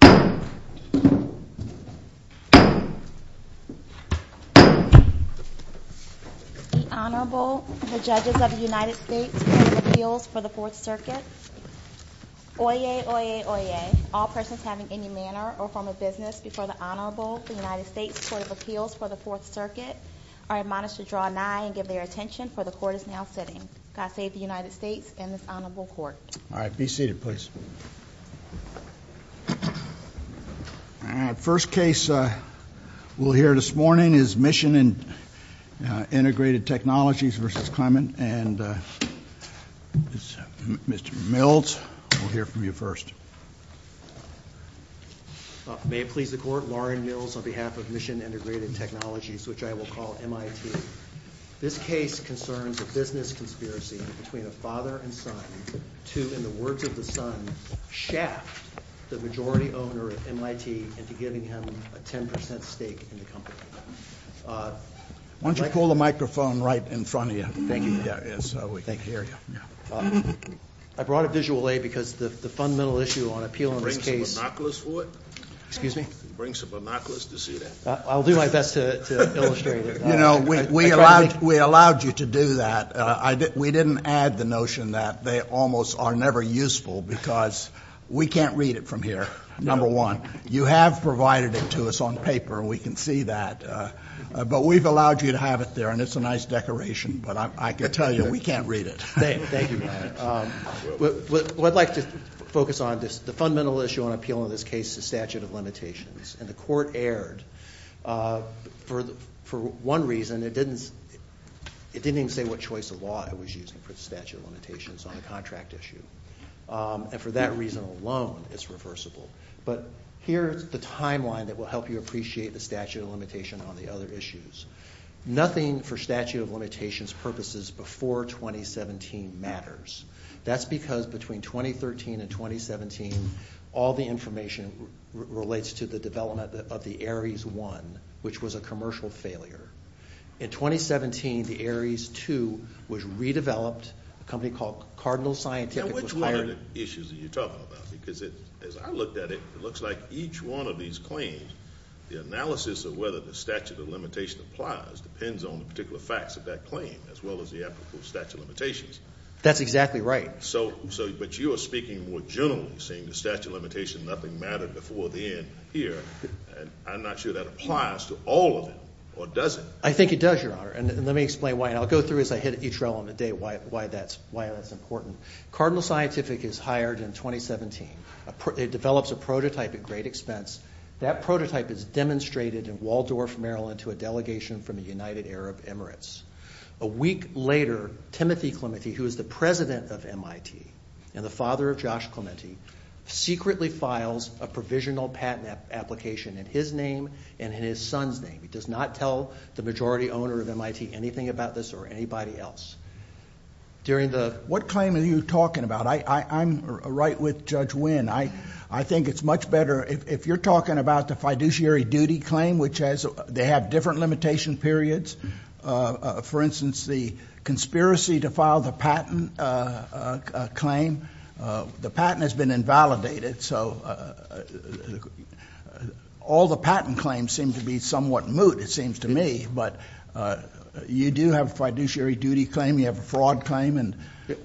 The Honorable, the Judges of the United States Court of Appeals for the 4th Circuit, Oyez, Oyez, Oyez. All persons having any manner or form of business before the Honorable, the United States Court of Appeals for the 4th Circuit, are admonished to draw nigh and give their attention, for the Court is now sitting. God save the United States and this Honorable Court. All right, be seated, please. First case we'll hear this morning is Mission Integrated Technologies v. Clemente, and Mr. Mills, we'll hear from you first. May it please the Court. Lauren Mills on behalf of Mission Integrated Technologies, which I will call MIT. This case concerns a business conspiracy between a father and son to, in the words of the son, shaft the majority owner of MIT into giving him a 10% stake in the company. Why don't you pull the microphone right in front of you. Thank you. Thank you. I brought a visual aid because the fundamental issue on appeal in this case. Bring some binoculars for it. Excuse me? Bring some binoculars to see that. I'll do my best to illustrate it. You know, we allowed you to do that. We didn't add the notion that they almost are never useful because we can't read it from here, number one. You have provided it to us on paper, and we can see that. But we've allowed you to have it there, and it's a nice decoration, but I can tell you we can't read it. Thank you. Well, I'd like to focus on the fundamental issue on appeal in this case, the statute of limitations. And the court erred for one reason. It didn't even say what choice of law it was using for the statute of limitations on the contract issue. And for that reason alone, it's reversible. But here's the timeline that will help you appreciate the statute of limitation on the other issues. Nothing for statute of limitations purposes before 2017 matters. That's because between 2013 and 2017, all the information relates to the development of the Ares I, which was a commercial failure. In 2017, the Ares II was redeveloped, a company called Cardinal Scientific was hired. And which one of the issues are you talking about? Because it, as I looked at it, it looks like each one of these claims, the analysis of whether the statute of limitation applies depends on the particular facts of that claim as well as the applicable statute of limitations. That's exactly right. So, but you are speaking more generally, saying the statute of limitation, nothing mattered before the end here. And I'm not sure that applies to all of them or doesn't. I think it does, Your Honor. And let me explain why. And I'll go through as I hit each row on the day why that's important. Cardinal Scientific is hired in 2017. It develops a prototype at great expense. That prototype is demonstrated in Waldorf, Maryland to a delegation from the United Arab Emirates. A week later, Timothy Clementi, who is the president of MIT and the father of Josh Clementi, secretly files a provisional patent application in his name and in his son's name. He does not tell the majority owner of MIT anything about this or anybody else. During the- What claim are you talking about? I'm right with Judge Winn. I think it's much better, if you're talking about the fiduciary duty claim, which has, they have different limitation periods. For instance, the conspiracy to file the patent claim, the patent has been invalidated, so all the patent claims seem to be somewhat moot, it seems to me. But you do have a fiduciary duty claim, you have a fraud claim, and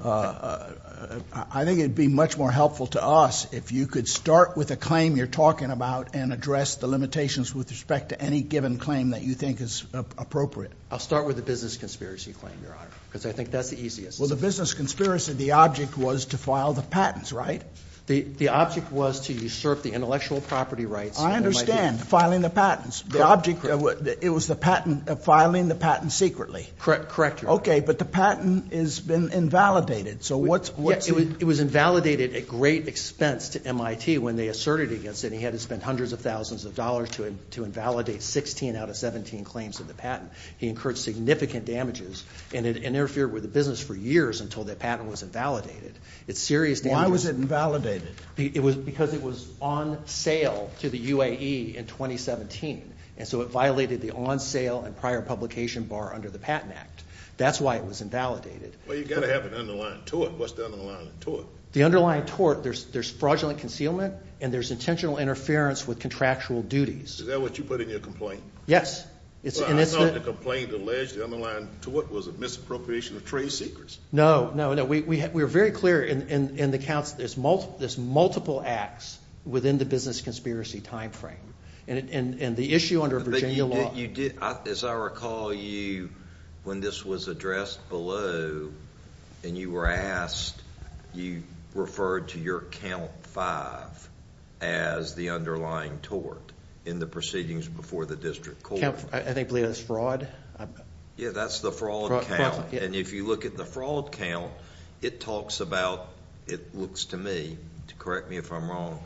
I think it'd be much more helpful to us if you could start with a claim you're talking about and address the limitations with respect to any given claim that you think is appropriate. I'll start with the business conspiracy claim, Your Honor, because I think that's the easiest. Well, the business conspiracy, the object was to file the patents, right? The object was to usurp the intellectual property rights of MIT. I understand, filing the patents. The object, it was the patent, filing the patent secretly. Correct, Your Honor. Okay, but the patent has been invalidated, so what's the- It was invalidated at great expense to MIT when they asserted against it, he had to spend hundreds of thousands of dollars to invalidate 16 out of 17 claims of the patent. He incurred significant damages, and it interfered with the business for years until that patent was invalidated. It's serious damage. Why was it invalidated? Because it was on sale to the UAE in 2017, and so it violated the on sale and prior publication bar under the Patent Act. That's why it was invalidated. Well, you've got to have an underlying tort, what's the underlying tort? The underlying tort, there's fraudulent concealment, and there's intentional interference with contractual duties. Is that what you put in your complaint? Yes. Well, I thought the complaint alleged the underlying tort was a misappropriation of trade secrets. No, no, no, we were very clear in the counsel, there's multiple acts within the business conspiracy timeframe, and the issue under Virginia law- As I recall you, when this was addressed below, and you were asked, you referred to your count five as the underlying tort in the proceedings before the district court. I think it was fraud. Yes, that's the fraud count. If you look at the fraud count, it talks about, it looks to me, correct me if I'm wrong,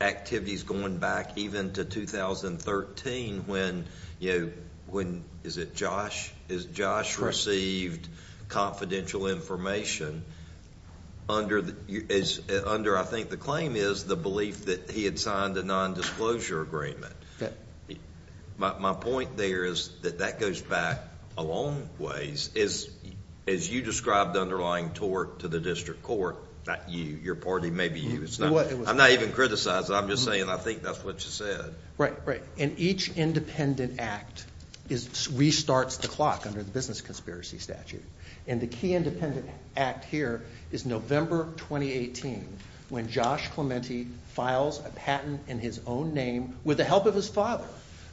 activities going back even to 2013 when, is it Josh? Is Josh received confidential information under, I think the claim is, the belief that he had signed a nondisclosure agreement. My point there is that that goes back a long ways. As you described the underlying tort to the district court, not you, your party, maybe you. I'm not even criticizing. I'm just saying I think that's what you said. Right, right. Each independent act restarts the clock under the business conspiracy statute, and the key independent act here is November 2018 when Josh Clemente files a patent in his own name with the help of his father,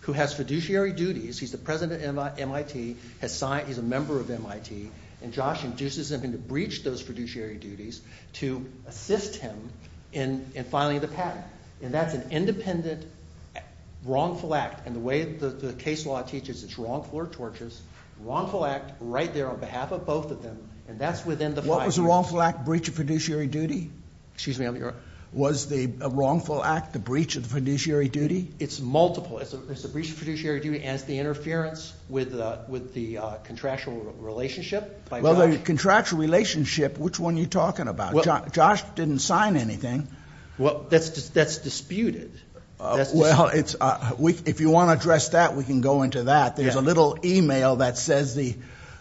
who has fiduciary duties. He's the president of MIT, he's a member of MIT, and Josh induces him to breach those fiduciary duties to assist him in filing the patent, and that's an independent wrongful act, and the way the case law teaches it's wrongful or tortious, wrongful act right there on behalf of both of them, and that's within the five years. What was the wrongful act, breach of fiduciary duty? Excuse me, I'll interrupt. Was the wrongful act the breach of fiduciary duty? It's multiple. It's the breach of fiduciary duty and it's the interference with the contractual relationship by Josh. By the contractual relationship, which one are you talking about? Josh didn't sign anything. That's disputed. Well, if you want to address that, we can go into that. There's a little email that says the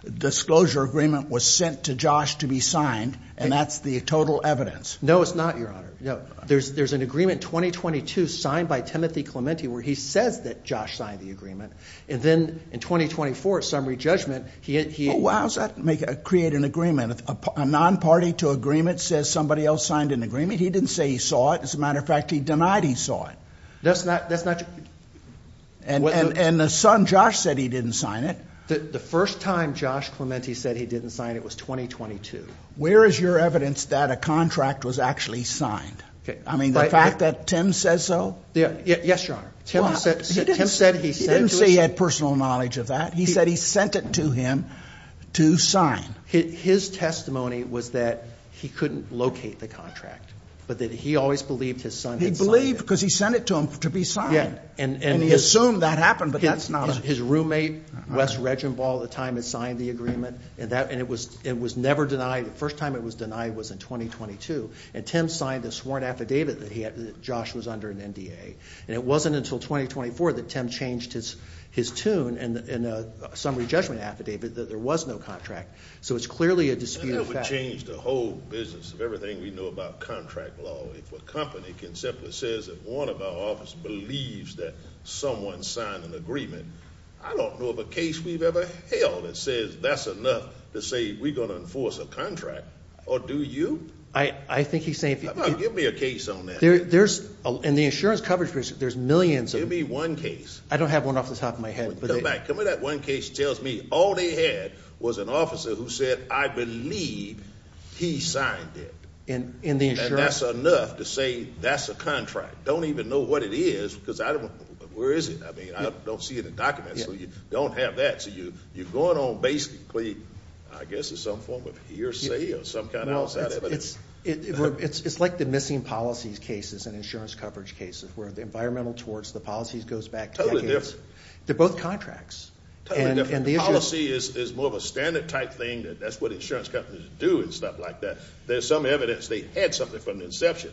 disclosure agreement was sent to Josh to be signed, and that's the total evidence. No, it's not, your honor. There's an agreement in 2022 signed by Timothy Clemente where he says that Josh signed the agreement. And then in 2024, summary judgment, he... Well, how does that create an agreement? A non-party to agreement says somebody else signed an agreement? He didn't say he saw it. As a matter of fact, he denied he saw it. That's not... And the son, Josh, said he didn't sign it. The first time Josh Clemente said he didn't sign it was 2022. Where is your evidence that a contract was actually signed? I mean, the fact that Tim says so? Yes, your honor. Well, he didn't say he had personal knowledge of that. He said he sent it to him to sign. His testimony was that he couldn't locate the contract, but that he always believed his son had signed it. He believed because he sent it to him to be signed, and he assumed that happened, but that's not... His roommate, Wes Reginball, at the time, had signed the agreement, and it was never denied. The first time it was denied was in 2022, and Tim signed a sworn affidavit that Josh was under an NDA. And it wasn't until 2024 that Tim changed his tune in a summary judgment affidavit that there was no contract. So it's clearly a disputed fact. I think that would change the whole business of everything we know about contract law. If a company can simply say that one of our office believes that someone signed an agreement, I don't know of a case we've ever held that says that's enough to say we're going to enforce a contract, or do you? I think he's saying... Come on, give me a case on that. There's... In the insurance coverage, there's millions of... Give me one case. I don't have one off the top of my head. Come back. Come back. That one case tells me all they had was an officer who said, I believe he signed it. In the insurance... And that's enough to say that's a contract. Don't even know what it is, because I don't... Where is it? I mean, I don't see it in documents. So you don't have that, so you're going on basically, I guess it's some form of hearsay or some kind of outside evidence. It's like the missing policies cases and insurance coverage cases, where the environmental towards the policies goes back decades. Totally different. They're both contracts. And the issue... Policy is more of a standard type thing, that that's what insurance companies do and stuff like that. There's some evidence they had something from the inception.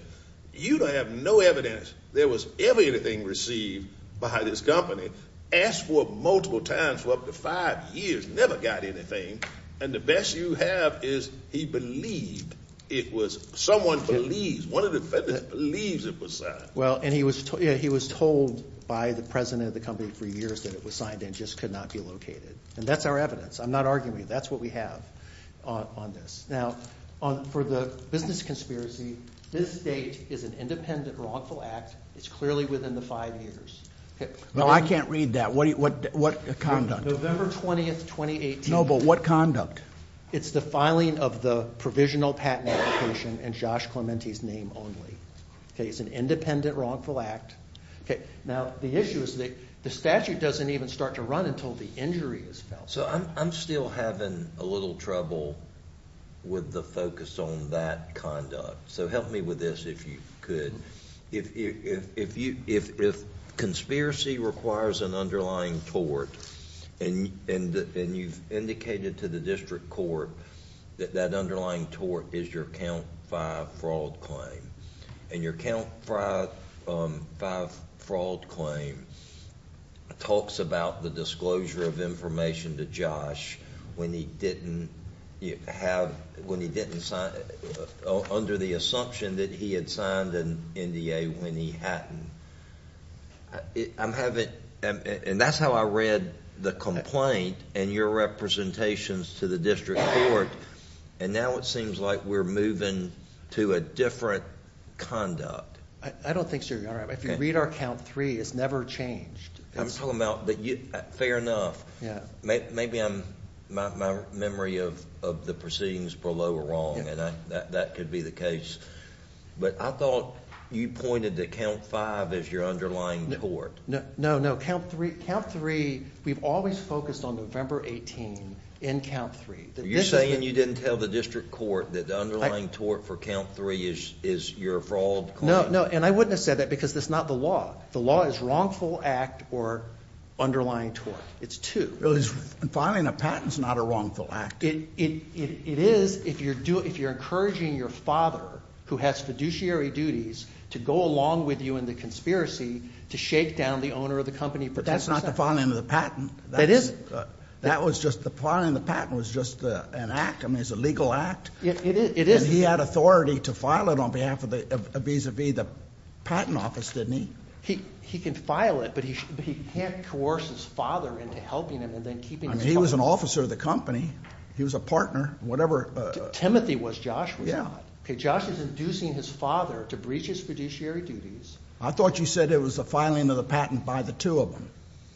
You don't have no evidence there was ever anything received by this company, asked for multiple times for up to five years, never got anything, and the best you have is he believed it was... Someone believes, one of the defendants believes it was signed. Well, and he was told by the president of the company for years that it was signed and just could not be located. And that's our evidence. I'm not arguing. That's what we have on this. Now, for the business conspiracy, this date is an independent wrongful act. It's clearly within the five years. Well, I can't read that. What conduct? November 20th, 2018. No, but what conduct? It's the filing of the provisional patent application in Josh Clemente's name only. It's an independent wrongful act. Now, the issue is that the statute doesn't even start to run until the injury is felt. So I'm still having a little trouble with the focus on that conduct. So help me with this, if you could. If conspiracy requires an underlying tort, and you've indicated to the district court that that underlying tort is your count five fraud claim, and your count five fraud claim talks about the disclosure of information to Josh when he didn't sign, under the assumption that he had signed an NDA when he hadn't, and that's how I read the complaint and your representations to the district court, and now it seems like we're moving to a different conduct. I don't think so, Your Honor. If you read our count three, it's never changed. I'm talking about... fair enough. Maybe my memory of the proceedings below are wrong, and that could be the But I thought you pointed to count five as your underlying tort. No, no. Count three, we've always focused on November 18 in count three. You're saying you didn't tell the district court that the underlying tort for count three is your fraud claim? No, and I wouldn't have said that because that's not the law. The law is wrongful act or underlying tort. It's two. Finally, a patent's not a wrongful act. It is if you're encouraging your father, who has fiduciary duties, to go along with you in the conspiracy to shake down the owner of the company. That's not the filing of the patent. That was just... the filing of the patent was just an act. I mean, it's a legal act. It is. He had authority to file it on behalf of, vis-a-vis the patent office, didn't he? He can file it, but he can't coerce his father into helping him and then keeping... He was an officer of the company. He was a partner. Whatever... Timothy was. Josh was not. Josh is inducing his father to breach his fiduciary duties. I thought you said it was the filing of the patent by the two of them.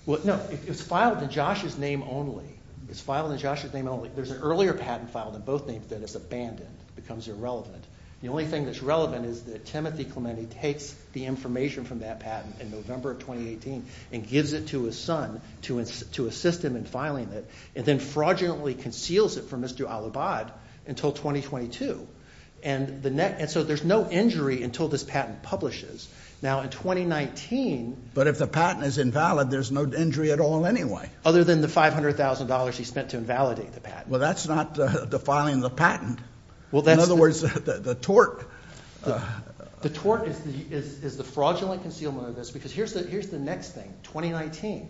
Well, no. It's filed in Josh's name only. It's filed in Josh's name only. There's an earlier patent filed in both names that is abandoned, becomes irrelevant. The only thing that's relevant is that Timothy Clementi takes the information from that patent in November of 2018 and gives it to his son to assist him in filing it, and then fraudulently conceals it from Mr. Alibod until 2022. There's no injury until this patent publishes. Now, in 2019... But if the patent is invalid, there's no injury at all anyway. Other than the $500,000 he spent to invalidate the patent. Well, that's not the filing of the patent. In other words, the tort... The tort is the fraudulent concealment of this, because here's the next thing, 2019.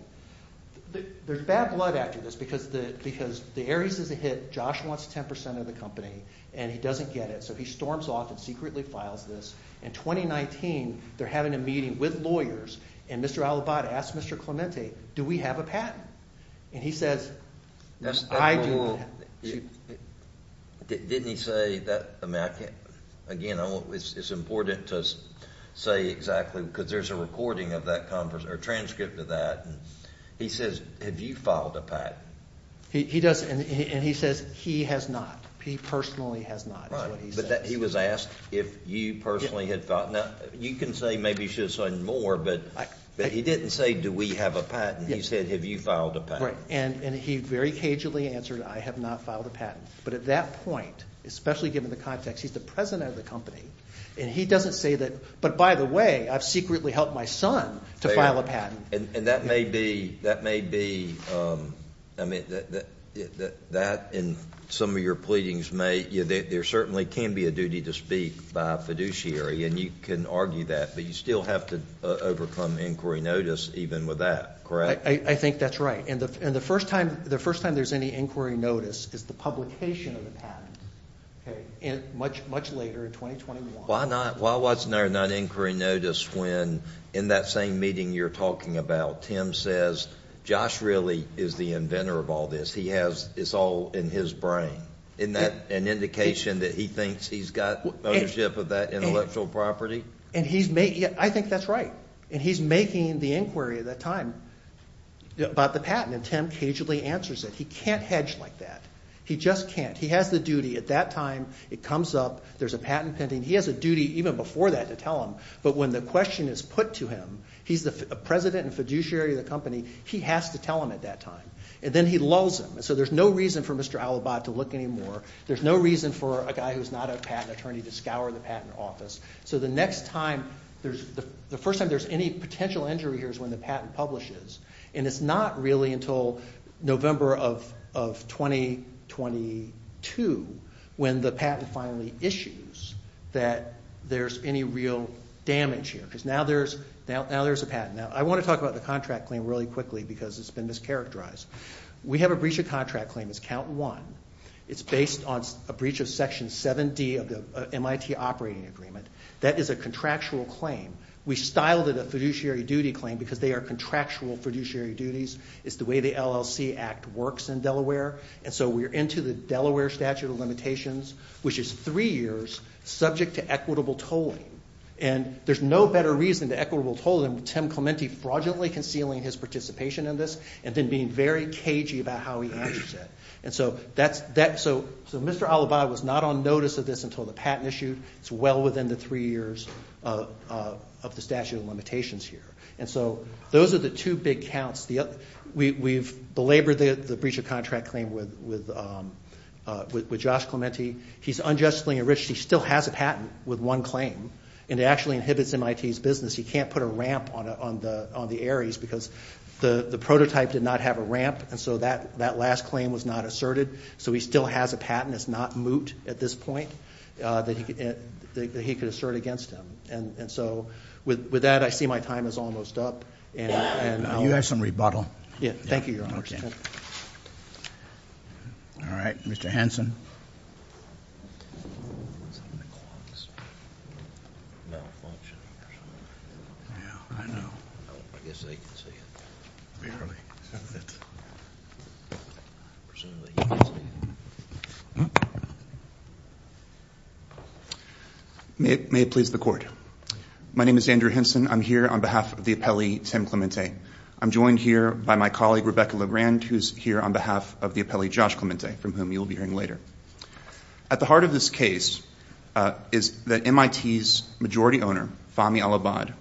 There's bad blood after this, because the Aries is a hit, Josh wants 10% of the company, and he doesn't get it. So he storms off and secretly files this. In 2019, they're having a meeting with lawyers, and Mr. Alibod asks Mr. Clementi, do we have a patent? And he says, I do. So, didn't he say... again, it's important to say exactly, because there's a recording of that, or a transcript of that, and he says, have you filed a patent? He does, and he says, he has not. He personally has not, is what he says. Right, but he was asked if you personally had filed... now, you can say maybe you should have signed more, but he didn't say, do we have a patent, he said, have you filed a patent? Right, and he very cagedly answered, I have not filed a patent, but at that point, especially given the context, he's the president of the company, and he doesn't say that... but by the way, I've secretly helped my son to file a patent. And that may be... I mean, that and some of your pleadings may... there certainly can be a duty to speak by a fiduciary, and you can argue that, but you still have to overcome inquiry notice, even with that, correct? I think that's right, and the first time there's any inquiry notice is the publication of the patent, much later, in 2021. Why wasn't there not inquiry notice when, in that same meeting you're talking about, Tim says, Josh really is the inventor of all this, he has... it's all in his brain. Isn't that an indication that he thinks he's got ownership of that intellectual property? And he's making... I think that's right, and he's making the inquiry at that time about the patent, and Tim cagedly answers it. He can't hedge like that. He just can't. He has the duty at that time, it comes up, there's a patent pending, he has a duty even before that to tell him, but when the question is put to him, he's the president and fiduciary of the company, he has to tell him at that time, and then he lulls him. So there's no reason for Mr. Alibod to look anymore, there's no reason for a guy who's not a patent attorney to scour the patent office. So the next time there's... the first time there's any potential injury here is when the patent publishes, and it's not really until November of 2022 when the patent finally issues that there's any real damage here, because now there's a patent. I want to talk about the contract claim really quickly because it's been mischaracterized. We have a breach of contract claim, it's count one. It's based on a breach of Section 7D of the MIT Operating Agreement. That is a contractual claim. We styled it a fiduciary duty claim because they are contractual fiduciary duties. It's the way the LLC Act works in Delaware, and so we're into the Delaware statute of limitations, which is three years subject to equitable tolling, and there's no better reason to equitable tolling than Tim Clemente fraudulently concealing his participation in this and then being very cagey about how he answers it. And so Mr. Alibaba was not on notice of this until the patent issued. It's well within the three years of the statute of limitations here. And so those are the two big counts. We've belabored the breach of contract claim with Josh Clemente. He's unjustly enriched. He still has a patent with one claim, and it actually inhibits MIT's business. He can't put a ramp on the Ares because the prototype did not have a ramp, and so that last claim was not asserted. So he still has a patent. It's not moot at this point that he could assert against him. And so with that, I see my time is almost up, and I'll... You have some rebuttal. Yeah. Thank you, Your Honor. Okay. All right. Mr. Hanson. May it please the court. My name is Andrew Hanson. I'm here on behalf of the appellee, Tim Clemente. I'm joined here by my colleague, Rebecca LeGrand, who's here on behalf of the appellee, Josh Clemente, from whom you'll be hearing later. At the heart of this case is that MIT's majority owner, Fahmy Al-Abad,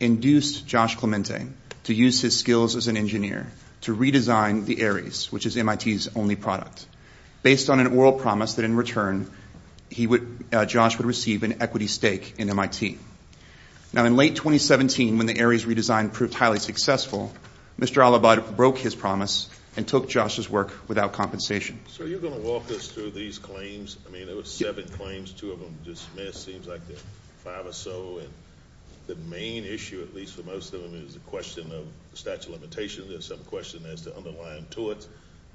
induced Josh Clemente to use his skills as an engineer to redesign the Ares, which is MIT's only product, based on an oral promise that in return, Josh would receive an equity stake in MIT. Now, in late 2017, when the Ares redesign proved highly successful, Mr. Al-Abad broke his promise and took Josh's work without compensation. So you're going to walk us through these claims? I mean, there were seven claims, two of them dismissed. It seems like there are five or so. And the main issue, at least for most of them, is the question of the statute of limitations. There's some question as to underlying to it.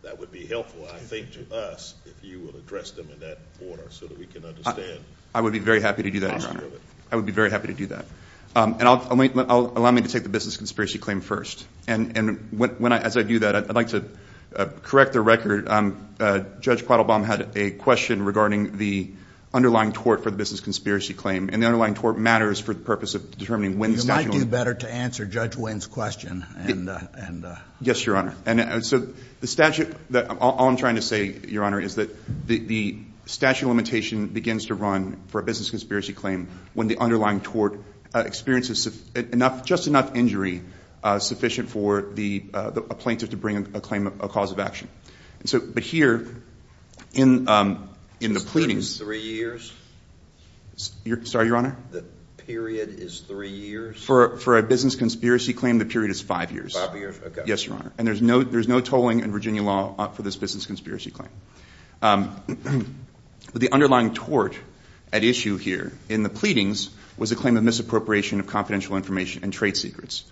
That would be helpful, I think, to us, if you would address them in that order so that we can understand... I would be very happy to do that, Your Honor. ...the posture of it. I would be very happy to do that. And allow me to take the business conspiracy claim first. And, as I do that, I'd like to correct the record. Judge Quattlebaum had a question regarding the underlying tort for the business conspiracy claim. And the underlying tort matters for the purpose of determining when the statute... You might do better to answer Judge Wynn's question and... Yes, Your Honor. And so, the statute, all I'm trying to say, Your Honor, is that the statute of limitation begins to run for a business conspiracy claim when the underlying tort experiences just enough injury sufficient for the plaintiff to bring a claim, a cause of action. And so, but here, in the pleadings... The period is three years? Sorry, Your Honor? The period is three years? For a business conspiracy claim, the period is five years. Five years? Okay. Yes, Your Honor. And there's no tolling in Virginia law for this business conspiracy claim. The underlying tort at issue here, in the pleadings, was a claim of misappropriation of confidential information and trade secrets.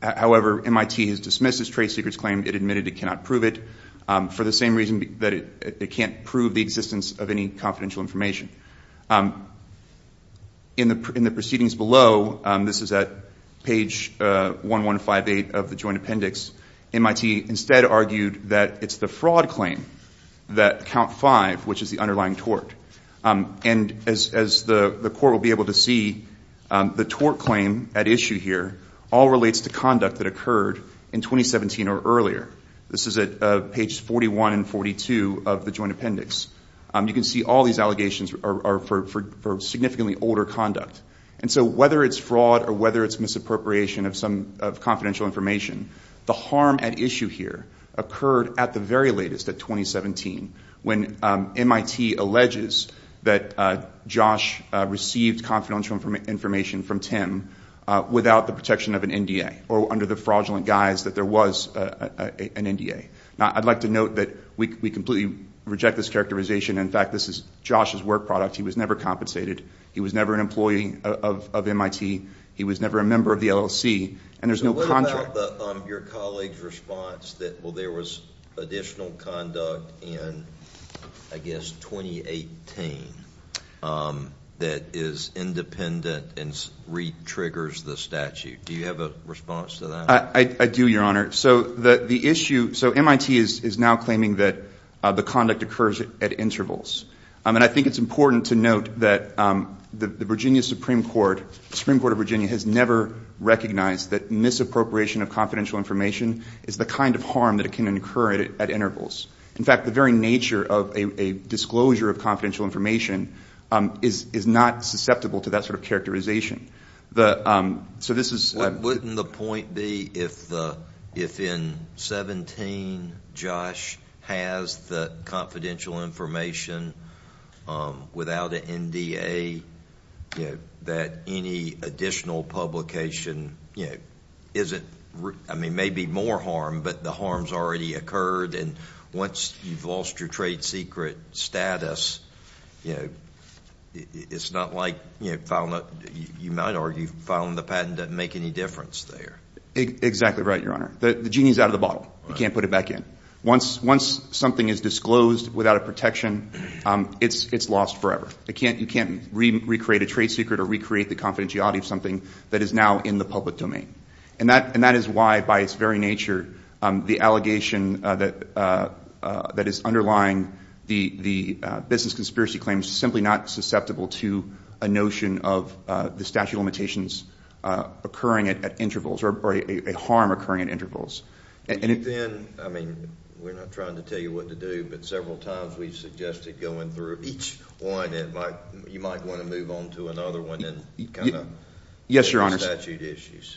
However, MIT has dismissed this trade secrets claim. It admitted it cannot prove it for the same reason that it can't prove the existence of any confidential information. In the proceedings below, this is at page 1158 of the joint appendix, MIT instead argued that it's the fraud claim that count five, which is the underlying tort. And as the court will be able to see, the tort claim at issue here all relates to conduct that occurred in 2017 or earlier. This is at page 41 and 42 of the joint appendix. You can see all these allegations are for significantly older conduct. And so, whether it's fraud or whether it's misappropriation of confidential information, the harm at issue here occurred at the very latest, at 2017, when MIT alleges that Josh received confidential information from Tim without the protection of an NDA or under the fraudulent guise that there was an NDA. Now, I'd like to note that we completely reject this characterization. In fact, this is Josh's work product. He was never compensated. He was never an employee of MIT. He was never a member of the LLC. And there's no contract. What about your colleague's response that, well, there was additional conduct in, I guess, 2018 that is independent and re-triggers the statute? Do you have a response to that? I do, Your Honor. So the issue, so MIT is now claiming that the conduct occurs at intervals. And I think it's important to note that the Virginia Supreme Court, the Supreme Court of Virginia has never recognized that misappropriation of confidential information is the kind of harm that it can incur at intervals. In fact, the very nature of a disclosure of confidential information is not susceptible to that sort of characterization. So this is... Wouldn't the point be if in 17, Josh has the confidential information without an NDA, that any additional publication, you know, isn't, I mean, maybe more harm, but the harm's already occurred and once you've lost your trade secret status, you know, it's not like, you know, you might argue filing the patent doesn't make any difference there. Exactly right, Your Honor. The genie's out of the bottle. You can't put it back in. Once something is disclosed without a protection, it's lost forever. You can't recreate a trade secret or recreate the confidentiality of something that is now in the public domain. And that is why, by its very nature, the allegation that is underlying the business conspiracy claim is simply not susceptible to a notion of the statute of limitations occurring at intervals or a harm occurring at intervals. And then, I mean, we're not trying to tell you what to do, but several times we've suggested going through each one and you might want to move on to another one and kind of. Yes, Your Honor. Statute issues.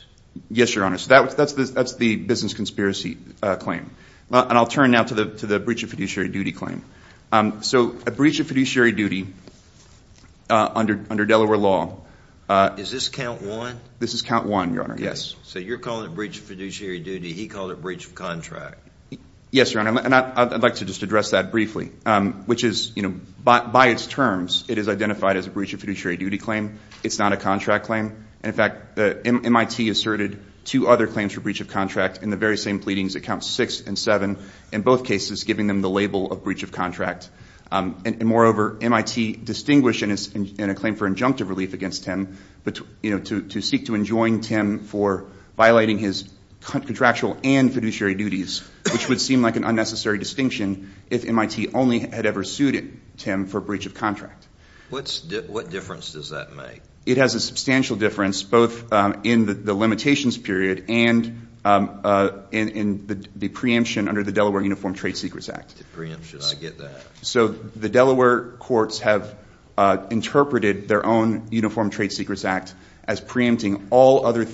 Yes, Your Honor. So that's the business conspiracy claim. And I'll turn now to the breach of fiduciary duty claim. So a breach of fiduciary duty under Delaware law. Is this count one? This is count one, Your Honor, yes. So you're calling it breach of fiduciary duty, he called it breach of contract. Yes, Your Honor. I'd like to just address that briefly, which is, you know, by its terms, it is identified as a breach of fiduciary duty claim. It's not a contract claim. And in fact, MIT asserted two other claims for breach of contract in the very same pleadings that count six and seven, in both cases giving them the label of breach of contract. And moreover, MIT distinguished in a claim for injunctive relief against him to seek to enjoin Tim for violating his contractual and fiduciary duties, which would seem like an unnecessary distinction if MIT only had ever sued him for breach of contract. What difference does that make? It has a substantial difference, both in the limitations period and in the preemption under the Delaware Uniform Trade Secrets Act. The preemption, I get that. So the Delaware courts have interpreted their own Uniform Trade Secrets Act as preempting all other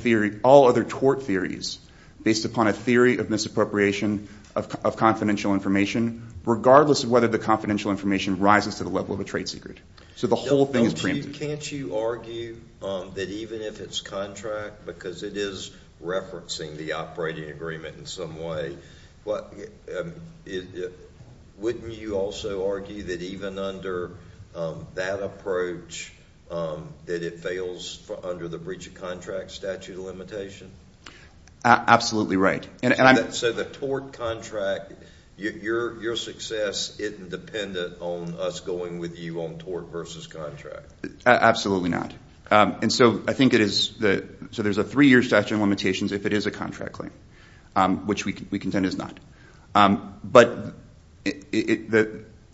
tort theories based upon a theory of misappropriation of confidential information, regardless of whether the confidential information rises to the level of a trade secret. So the whole thing is preemptive. Can't you argue that even if it's contract, because it is referencing the operating agreement in some way, wouldn't you also argue that even under that approach, that it fails under the breach of contract statute of limitation? Absolutely right. So the tort contract, your success isn't dependent on us going with you on tort versus contract? Absolutely not. And so I think it is, so there's a three-year statute of limitations if it is a contract claim, which we contend is not. But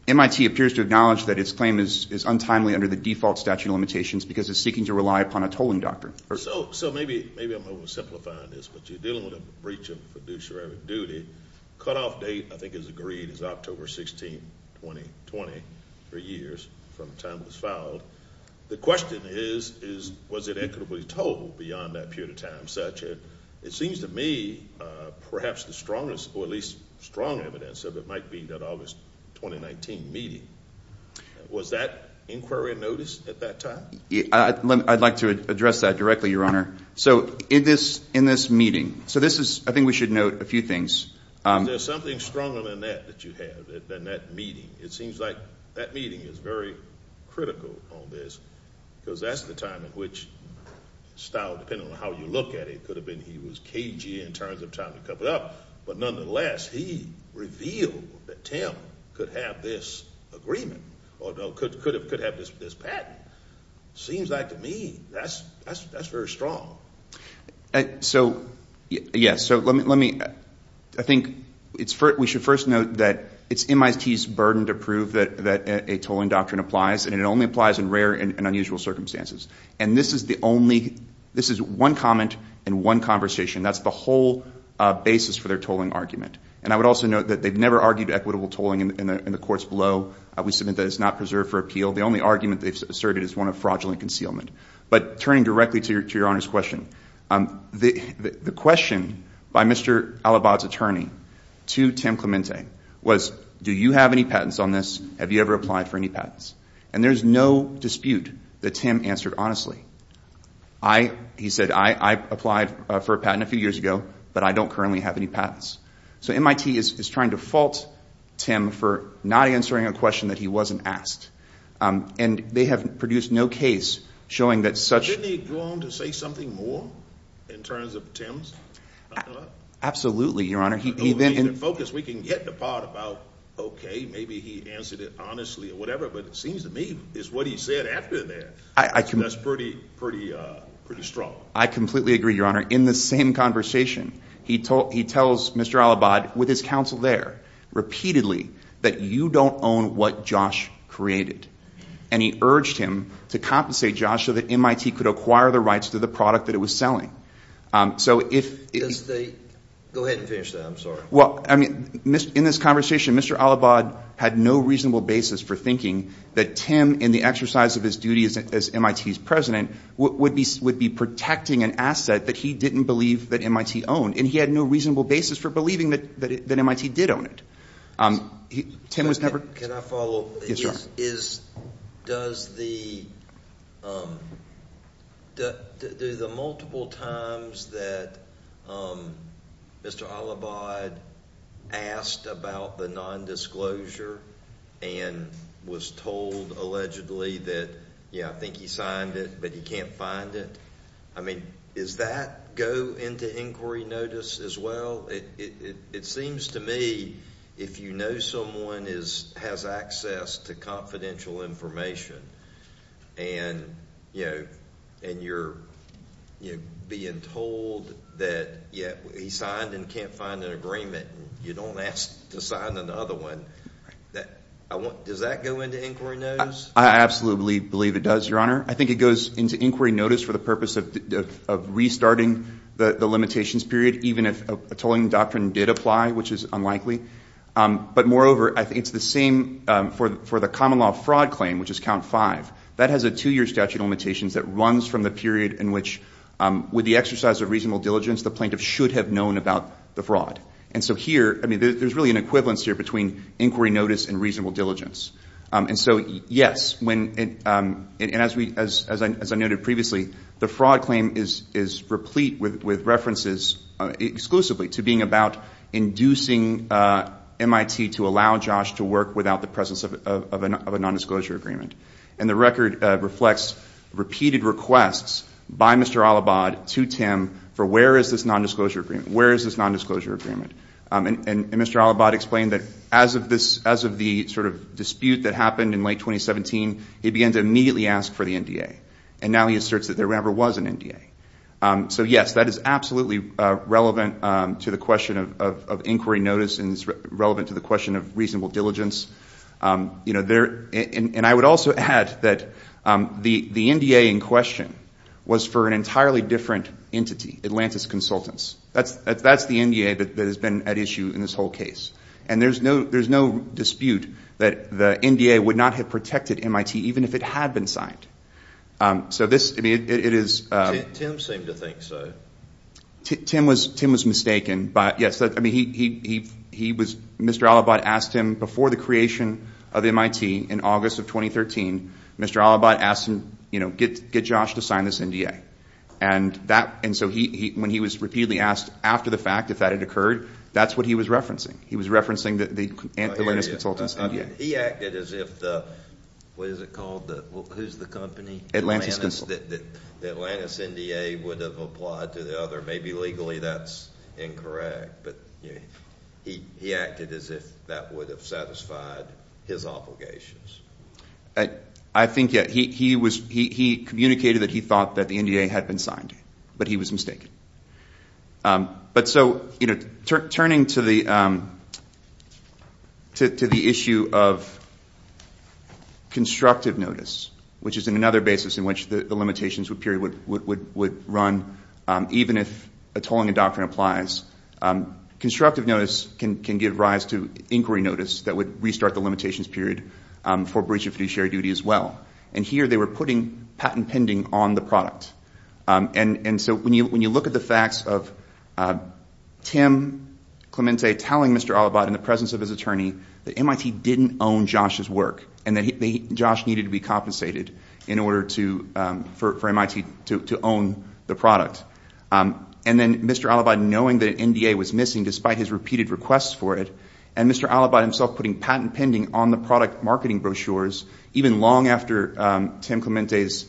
MIT appears to acknowledge that its claim is untimely under the default statute of limitations because it's seeking to rely upon a tolling doctrine. So maybe I'm oversimplifying this, but you're dealing with a breach of fiduciary duty. Cut-off date, I think is agreed, is October 16, 2020, for years from the time it was filed. The question is, was it equitably tolled beyond that period of time? It seems to me perhaps the strongest, or at least strong evidence of it, might be that August 2019 meeting. Was that inquiry noticed at that time? I'd like to address that directly, Your Honor. So in this meeting, so this is, I think we should note a few things. Is there something stronger than that that you have, than that meeting? It seems like that meeting is very critical on this because that's the time at which, depending on how you look at it, it could have been he was cagey in terms of time to set up. But nonetheless, he revealed that Tim could have this agreement, or could have this patent. Seems like to me, that's very strong. So yes, so let me, I think we should first note that it's MIT's burden to prove that a tolling doctrine applies, and it only applies in rare and unusual circumstances. And this is the only, this is one comment and one conversation. That's the whole basis for their tolling argument. And I would also note that they've never argued equitable tolling in the courts below. We submit that it's not preserved for appeal. The only argument they've asserted is one of fraudulent concealment. But turning directly to Your Honor's question, the question by Mr. Alibod's attorney to Tim Clemente was, do you have any patents on this? Have you ever applied for any patents? And there's no dispute that Tim answered honestly. I, he said, I applied for a patent a few years ago, but I don't currently have any patents. So MIT is trying to fault Tim for not answering a question that he wasn't asked. And they have produced no case showing that such- Shouldn't he go on to say something more in terms of Tim's? Absolutely, Your Honor. He then- Focus, we can get the part about, okay, maybe he answered it honestly or whatever, but it seems to me it's what he said after that. That's pretty, pretty, pretty strong. I completely agree, Your Honor. In the same conversation, he told, he tells Mr. Alibod with his counsel there, repeatedly, that you don't own what Josh created. And he urged him to compensate Josh so that MIT could acquire the rights to the product that it was selling. So if- Go ahead and finish that, I'm sorry. Well, I mean, in this conversation, Mr. Alibod had no reasonable basis for thinking that Tim, in the exercise of his duty as MIT's president, would be protecting an asset that he didn't believe that MIT owned. And he had no reasonable basis for believing that MIT did own it. Tim was never- Can I follow? Yes, Your Honor. Is, does the, do the multiple times that Mr. Alibod asked about the nondisclosure and was told, allegedly, that, yeah, I think he signed it, but he can't find it, I mean, does that go into inquiry notice as well? It seems to me, if you know someone is, has access to confidential information, and, you know, and you're, you know, being told that, yeah, he signed and can't find an agreement, and you don't ask to sign another one, that, I want, does that go into inquiry notice? I absolutely believe it does, Your Honor. I think it goes into inquiry notice for the purpose of restarting the limitations period, even if a tolling doctrine did apply, which is unlikely. But moreover, I think it's the same for the common law fraud claim, which is count five. That has a two-year statute of limitations that runs from the period in which, with the exercise of reasonable diligence, the plaintiff should have known about the fraud. And so here, I mean, there's really an equivalence here between inquiry notice and reasonable diligence. And so, yes, when, and as we, as I noted previously, the fraud claim is replete with references exclusively to being about inducing MIT to allow Josh to work without the presence of a nondisclosure agreement. And the record reflects repeated requests by Mr. Alibod to Tim for where is this nondisclosure agreement? Where is this nondisclosure agreement? And Mr. Alibod explained that as of this, as of the sort of dispute that happened in late 2017, he began to immediately ask for the NDA. And now he asserts that there never was an NDA. So yes, that is absolutely relevant to the question of inquiry notice and is relevant to the question of reasonable diligence. You know, there, and I would also add that the NDA in question was for an entirely different entity, Atlantis Consultants. That's the NDA that has been at issue in this whole case. And there's no dispute that the NDA would not have protected MIT, even if it had been signed. So this, I mean, it is. Tim seemed to think so. Tim was mistaken, but yes, I mean, he was, Mr. Alibod asked him, before the creation of MIT in August of 2013, Mr. Alibod asked him, you know, get Josh to sign this NDA. And that, and so he, when he was repeatedly asked after the fact if that had occurred, that's what he was referencing. He was referencing the Atlantis Consultants NDA. He acted as if the, what is it called, the, well, who's the company, Atlantis, the Atlantis NDA would have applied to the other, maybe legally that's incorrect, but he acted as if that would have satisfied his obligations. I think he was, he communicated that he thought that the NDA had been signed, but he was mistaken. But so, you know, turning to the, to the issue of constructive notice, which is another basis in which the limitations period would run, even if a tolling of doctrine applies, constructive notice can give rise to inquiry notice that would restart the limitations period for breach of fiduciary duty as well. And here they were putting patent pending on the product. And so when you look at the facts of Tim Clemente telling Mr. Alibod in the presence of his attorney that MIT didn't own Josh's work, and that Josh needed to be compensated in order to, for MIT to own the product. And then Mr. Alibod knowing that NDA was missing despite his repeated requests for it, and Mr. Alibod himself putting patent pending on the product marketing brochures, even long after Tim Clemente's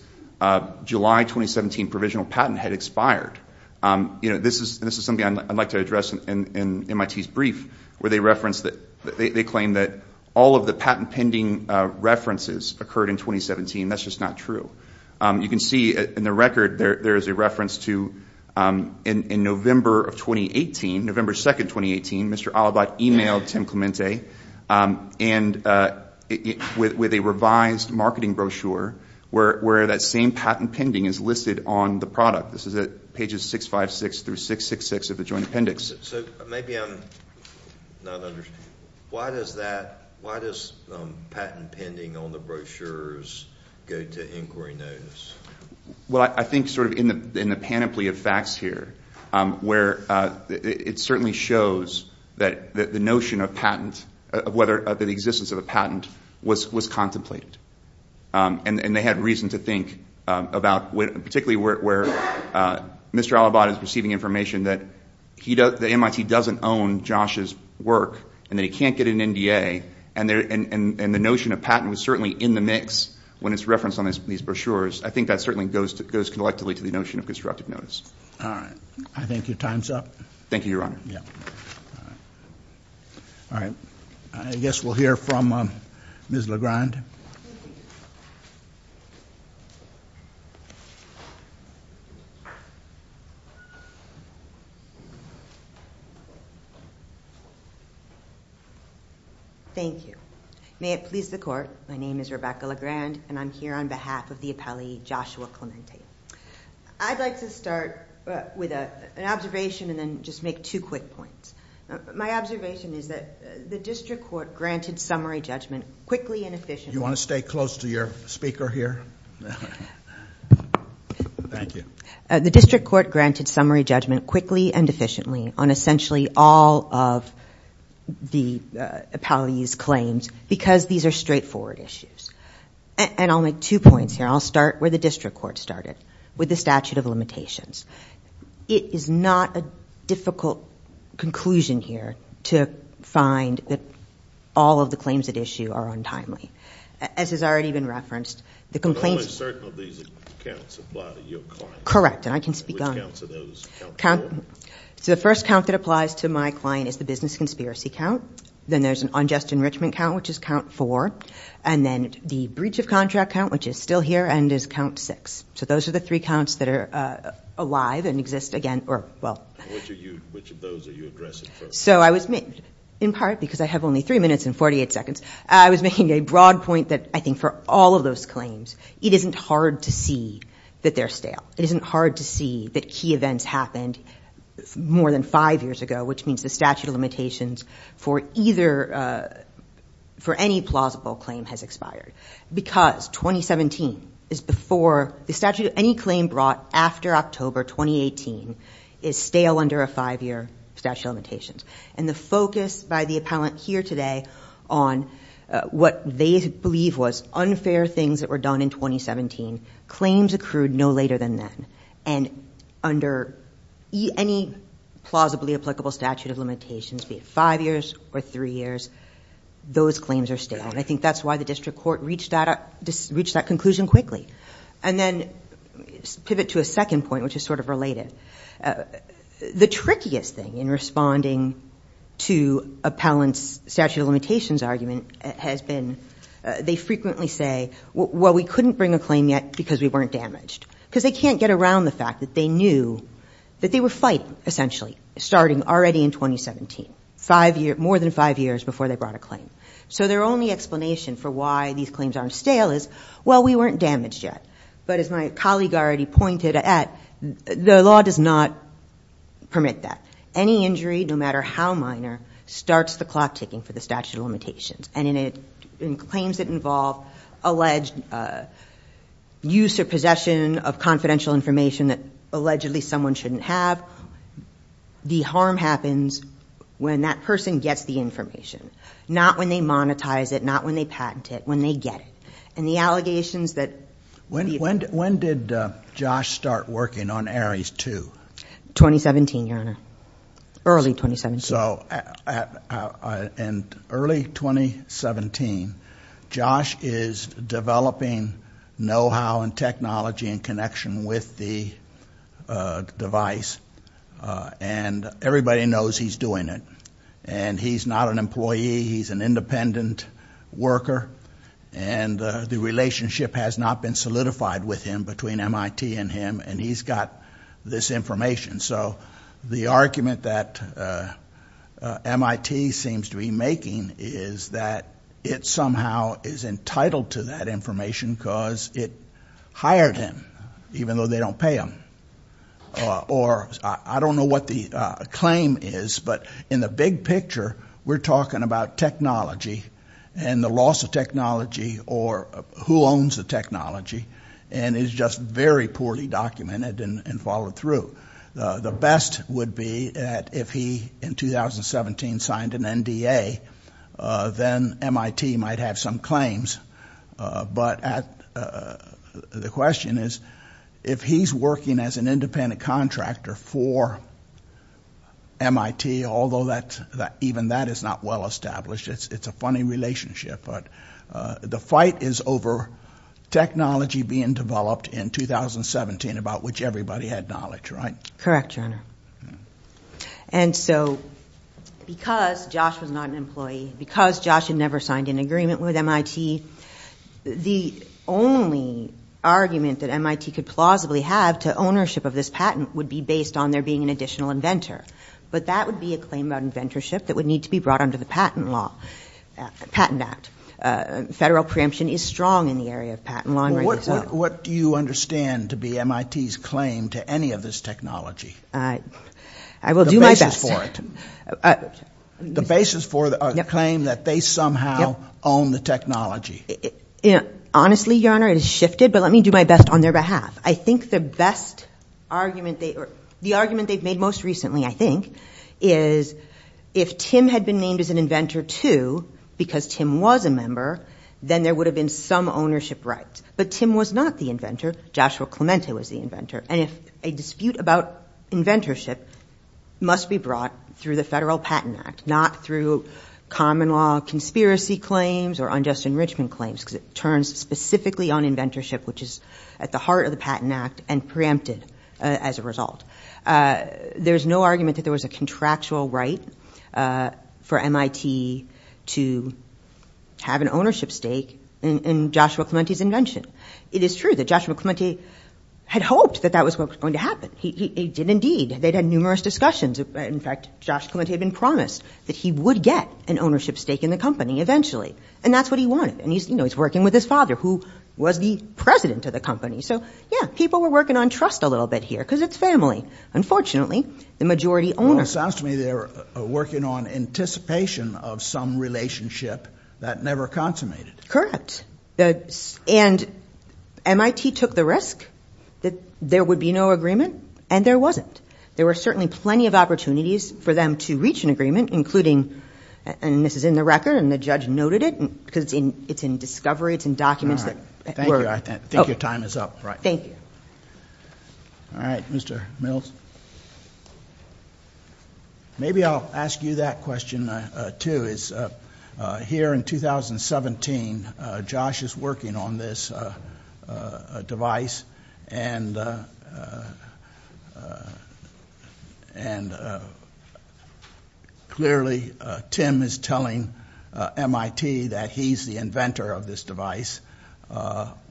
July 2017 provisional patent had expired. You know, this is, this is something I'd like to address in MIT's brief, where they reference that, they claim that all of the patent pending references occurred in 2017. That's just not true. You can see in the record, there is a reference to, in November of 2018, November 2nd, 2018, Mr. Alibod emailed Tim Clemente, and with a revised marketing brochure, where that same patent pending is listed on the product. This is at pages 656 through 666 of the joint appendix. So maybe I'm not understanding. Why does that, why does patent pending on the brochures go to inquiry notice? Well, I think sort of in the panoply of facts here, where it certainly shows that the notion of patent, of whether the existence of a patent was contemplated. And they had reason to think about, particularly where Mr. Alibod is receiving information that he doesn't, that MIT doesn't own Josh's work, and that he can't get an NDA. And there, and the notion of patent was certainly in the mix when it's referenced on these brochures. I think that certainly goes to, goes collectively to the notion of constructive notice. All right. I think your time's up. Thank you, Your Honor. Yeah. All right. I guess we'll hear from Ms. Legrand. Thank you. May it please the court. My name is Rebecca Legrand, and I'm here on behalf of the appellee, Joshua Clemente. I'd like to start with an observation and then just make two quick points. My observation is that the district court granted summary judgment quickly and efficiently. You want to stay close to your speaker here? Thank you. The district court granted summary judgment quickly and efficiently on essentially all of the appellee's claims, because these are straightforward issues. And I'll make two points here. I'll start where the district court started, with the statute of limitations. It is not a difficult conclusion here to find that all of the claims at issue are untimely. As has already been referenced, the complaints- But only certain of these accounts apply to your client. Correct. And I can speak on- Which counts are those? Count four? The first count that applies to my client is the business conspiracy count. Then there's an unjust enrichment count, which is count four. And then the breach of contract count, which is still here, and is count six. So those are the three counts that are alive and exist again, or well- And which of those are you addressing first? So I was, in part because I have only three minutes and 48 seconds, I was making a broad point that I think for all of those claims, it isn't hard to see that they're stale. It isn't hard to see that key events happened more than five years ago, which means the statute of limitations for either, for any plausible claim has expired. Because 2017 is before the statute of any claim brought after October 2018 is stale under a five-year statute of limitations. And the focus by the appellant here today on what they believe was unfair things that were done in 2017, claims accrued no later than then. And under any plausibly applicable statute of limitations, be it five years or three years, those claims are stale. And I think that's why the district court reached that conclusion quickly. And then pivot to a second point, which is sort of related. The trickiest thing in responding to appellant's statute of limitations argument has been, they frequently say, well, we couldn't bring a claim yet because we weren't damaged. Because they can't get around the fact that they knew that they were fighting, essentially, starting already in 2017, more than five years before they brought a claim. So their only explanation for why these claims aren't stale is, well, we weren't damaged yet. But as my colleague already pointed at, the law does not permit that. Any injury, no matter how minor, starts the clock ticking for the statute of limitations. And in claims that involve alleged use or possession of confidential information that allegedly someone shouldn't have, the harm happens when that person gets the information. Not when they monetize it, not when they patent it, when they get it. And the allegations that- When did Josh start working on ARIES II? 2017, Your Honor. Early 2017. So, in early 2017, Josh is developing know-how and technology and connection with the device. And everybody knows he's doing it. And he's not an employee, he's an independent worker. And the relationship has not been solidified with him, between MIT and him, and he's got this information. So, the argument that MIT seems to be making is that it somehow is entitled to that information because it hired him, even though they don't pay him. Or, I don't know what the claim is, but in the big picture, we're talking about technology and the loss of technology, or who owns the technology, and it's just very poorly documented and followed through. The best would be that if he, in 2017, signed an NDA, then MIT might have some claims. But the question is, if he's working as an independent contractor for MIT, although even that is not well established, it's a funny relationship. But the fight is over technology being developed in 2017, about which everybody had knowledge, right? Correct, Your Honor. And so, because Josh was not an employee, because Josh had never signed an agreement with MIT, the only argument that MIT could plausibly have to ownership of this patent would be based on there being an additional inventor. But that would be a claim about inventorship that would need to be brought under the patent law, the Patent Act. Federal preemption is strong in the area of patent law. What do you understand to be MIT's claim to any of this technology? I will do my best. The basis for it. The claim that they somehow own the technology. Honestly, Your Honor, it has shifted, but let me do my best on their behalf. I think the best argument, the argument they've made most recently, I think, is if Tim had been named as an inventor too, because Tim was a member, then there would have been some ownership rights. But Tim was not the inventor, Joshua Clemente was the inventor. And if a dispute about inventorship must be brought through the Federal Patent Act, not through common law conspiracy claims or unjust enrichment claims, because it turns specifically on inventorship, which is at the heart of the Patent Act, and preempted as a result. There's no argument that there was a contractual right for MIT to have an ownership stake in Joshua Clemente's invention. It is true that Joshua Clemente had hoped that that was what was going to happen. He did indeed. They'd had numerous discussions. In fact, Joshua Clemente had been promised that he would get an ownership stake in the company eventually. And that's what he wanted. And he's working with his father, who was the president of the company. So, yeah, people were working on trust a little bit here, because it's family. Unfortunately, the majority owner. Well, it sounds to me they were working on anticipation of some relationship that never consummated. Correct. And MIT took the risk that there would be no agreement. And there wasn't. There were certainly plenty of opportunities for them to reach an agreement, including, and this is in the record, and the judge noted it. because it's in discovery, it's in documents that were- Thank you, I think your time is up. Thank you. All right, Mr. Mills. Maybe I'll ask you that question, too, is here in 2017, Josh is working on this device and and clearly, Tim is telling MIT that he's the inventor of this device.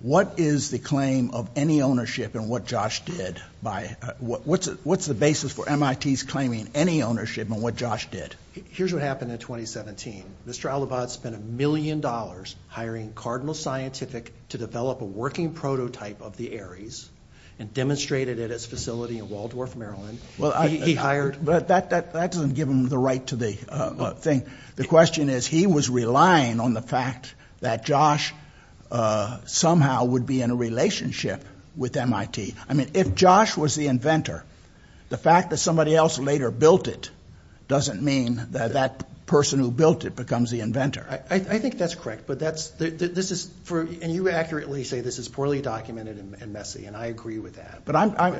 What is the claim of any ownership in what Josh did by- What's the basis for MIT's claiming any ownership in what Josh did? Here's what happened in 2017. Mr. Alibod spent a million dollars hiring Cardinal Scientific to develop a working prototype of the Ares and demonstrated it at his facility in Waldorf, Maryland. He hired- But that doesn't give him the right to the thing. The question is, he was relying on the fact that Josh somehow would be in a relationship with MIT. I mean, if Josh was the inventor, the fact that somebody else later built it doesn't mean that that person who built it becomes the inventor. I think that's correct, but that's, this is, and you accurately say this is poorly documented and messy, and I agree with that, but I'm,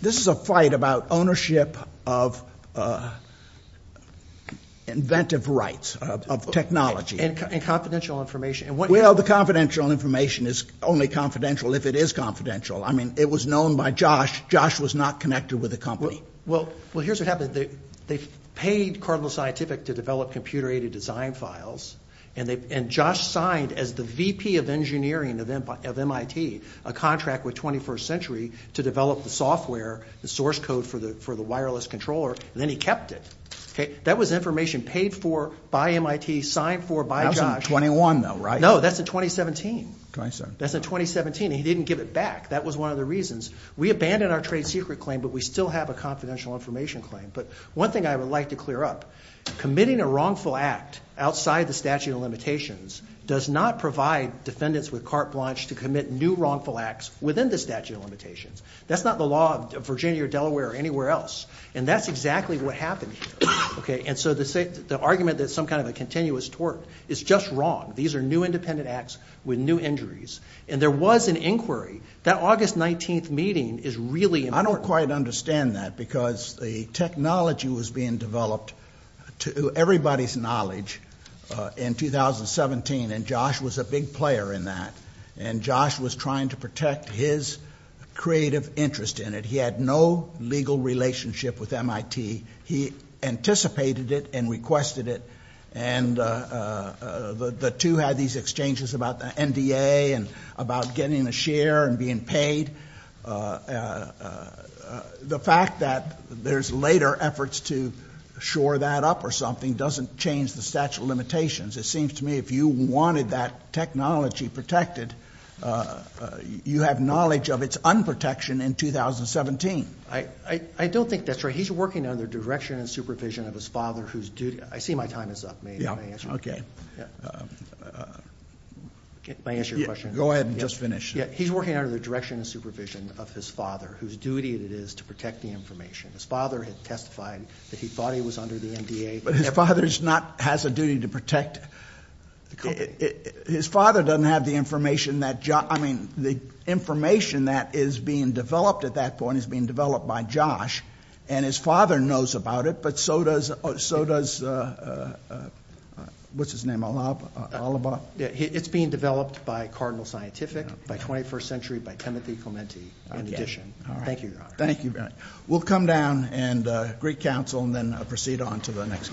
this is a fight about ownership of inventive rights, of technology. And confidential information, and what- Well, the confidential information is only confidential if it is confidential. I mean, it was known by Josh. Josh was not connected with the company. Well, here's what happened. They paid Cardinal Scientific to develop computer-aided design files, and Josh signed, as the VP of engineering of MIT, a contract with 21st Century to develop the software, the source code for the wireless controller, and then he kept it. Okay, that was information paid for by MIT, signed for by Josh. That was in 21, though, right? No, that's in 2017. Okay, so- That's in 2017, and he didn't give it back. That was one of the reasons. We abandoned our trade secret claim, but we still have a confidential information claim. But one thing I would like to clear up, committing a wrongful act outside the statute of limitations does not provide defendants with carte blanche to commit new wrongful acts within the statute of limitations. That's not the law of Virginia or Delaware or anywhere else, and that's exactly what happened here. Okay, and so the argument that some kind of a continuous tort is just wrong. These are new independent acts with new injuries, and there was an inquiry. That August 19th meeting is really important. I don't quite understand that, because the technology was being developed to everybody's knowledge in 2017. And Josh was a big player in that, and Josh was trying to protect his creative interest in it. He had no legal relationship with MIT. He anticipated it and requested it. And the two had these exchanges about the NDA and about getting a share and being paid. The fact that there's later efforts to shore that up or something doesn't change the statute of limitations. It seems to me if you wanted that technology protected, you have knowledge of its unprotection in 2017. I don't think that's right. He's working under the direction and supervision of his father, whose duty, I see my time is up. May I answer your question? Yeah, okay. May I answer your question? Go ahead and just finish. Yeah, he's working under the direction and supervision of his father, whose duty it is to protect the information. His father had testified that he thought he was under the NDA. But his father has a duty to protect. His father doesn't have the information that, I mean, the information that is being developed at that point is being developed by Josh. And his father knows about it, but so does, what's his name, Alaba? It's being developed by Cardinal Scientific, by 21st Century, by Timothy Clementi, in addition. Thank you, Your Honor. Thank you. We'll come down and greet counsel and then proceed on to the next case.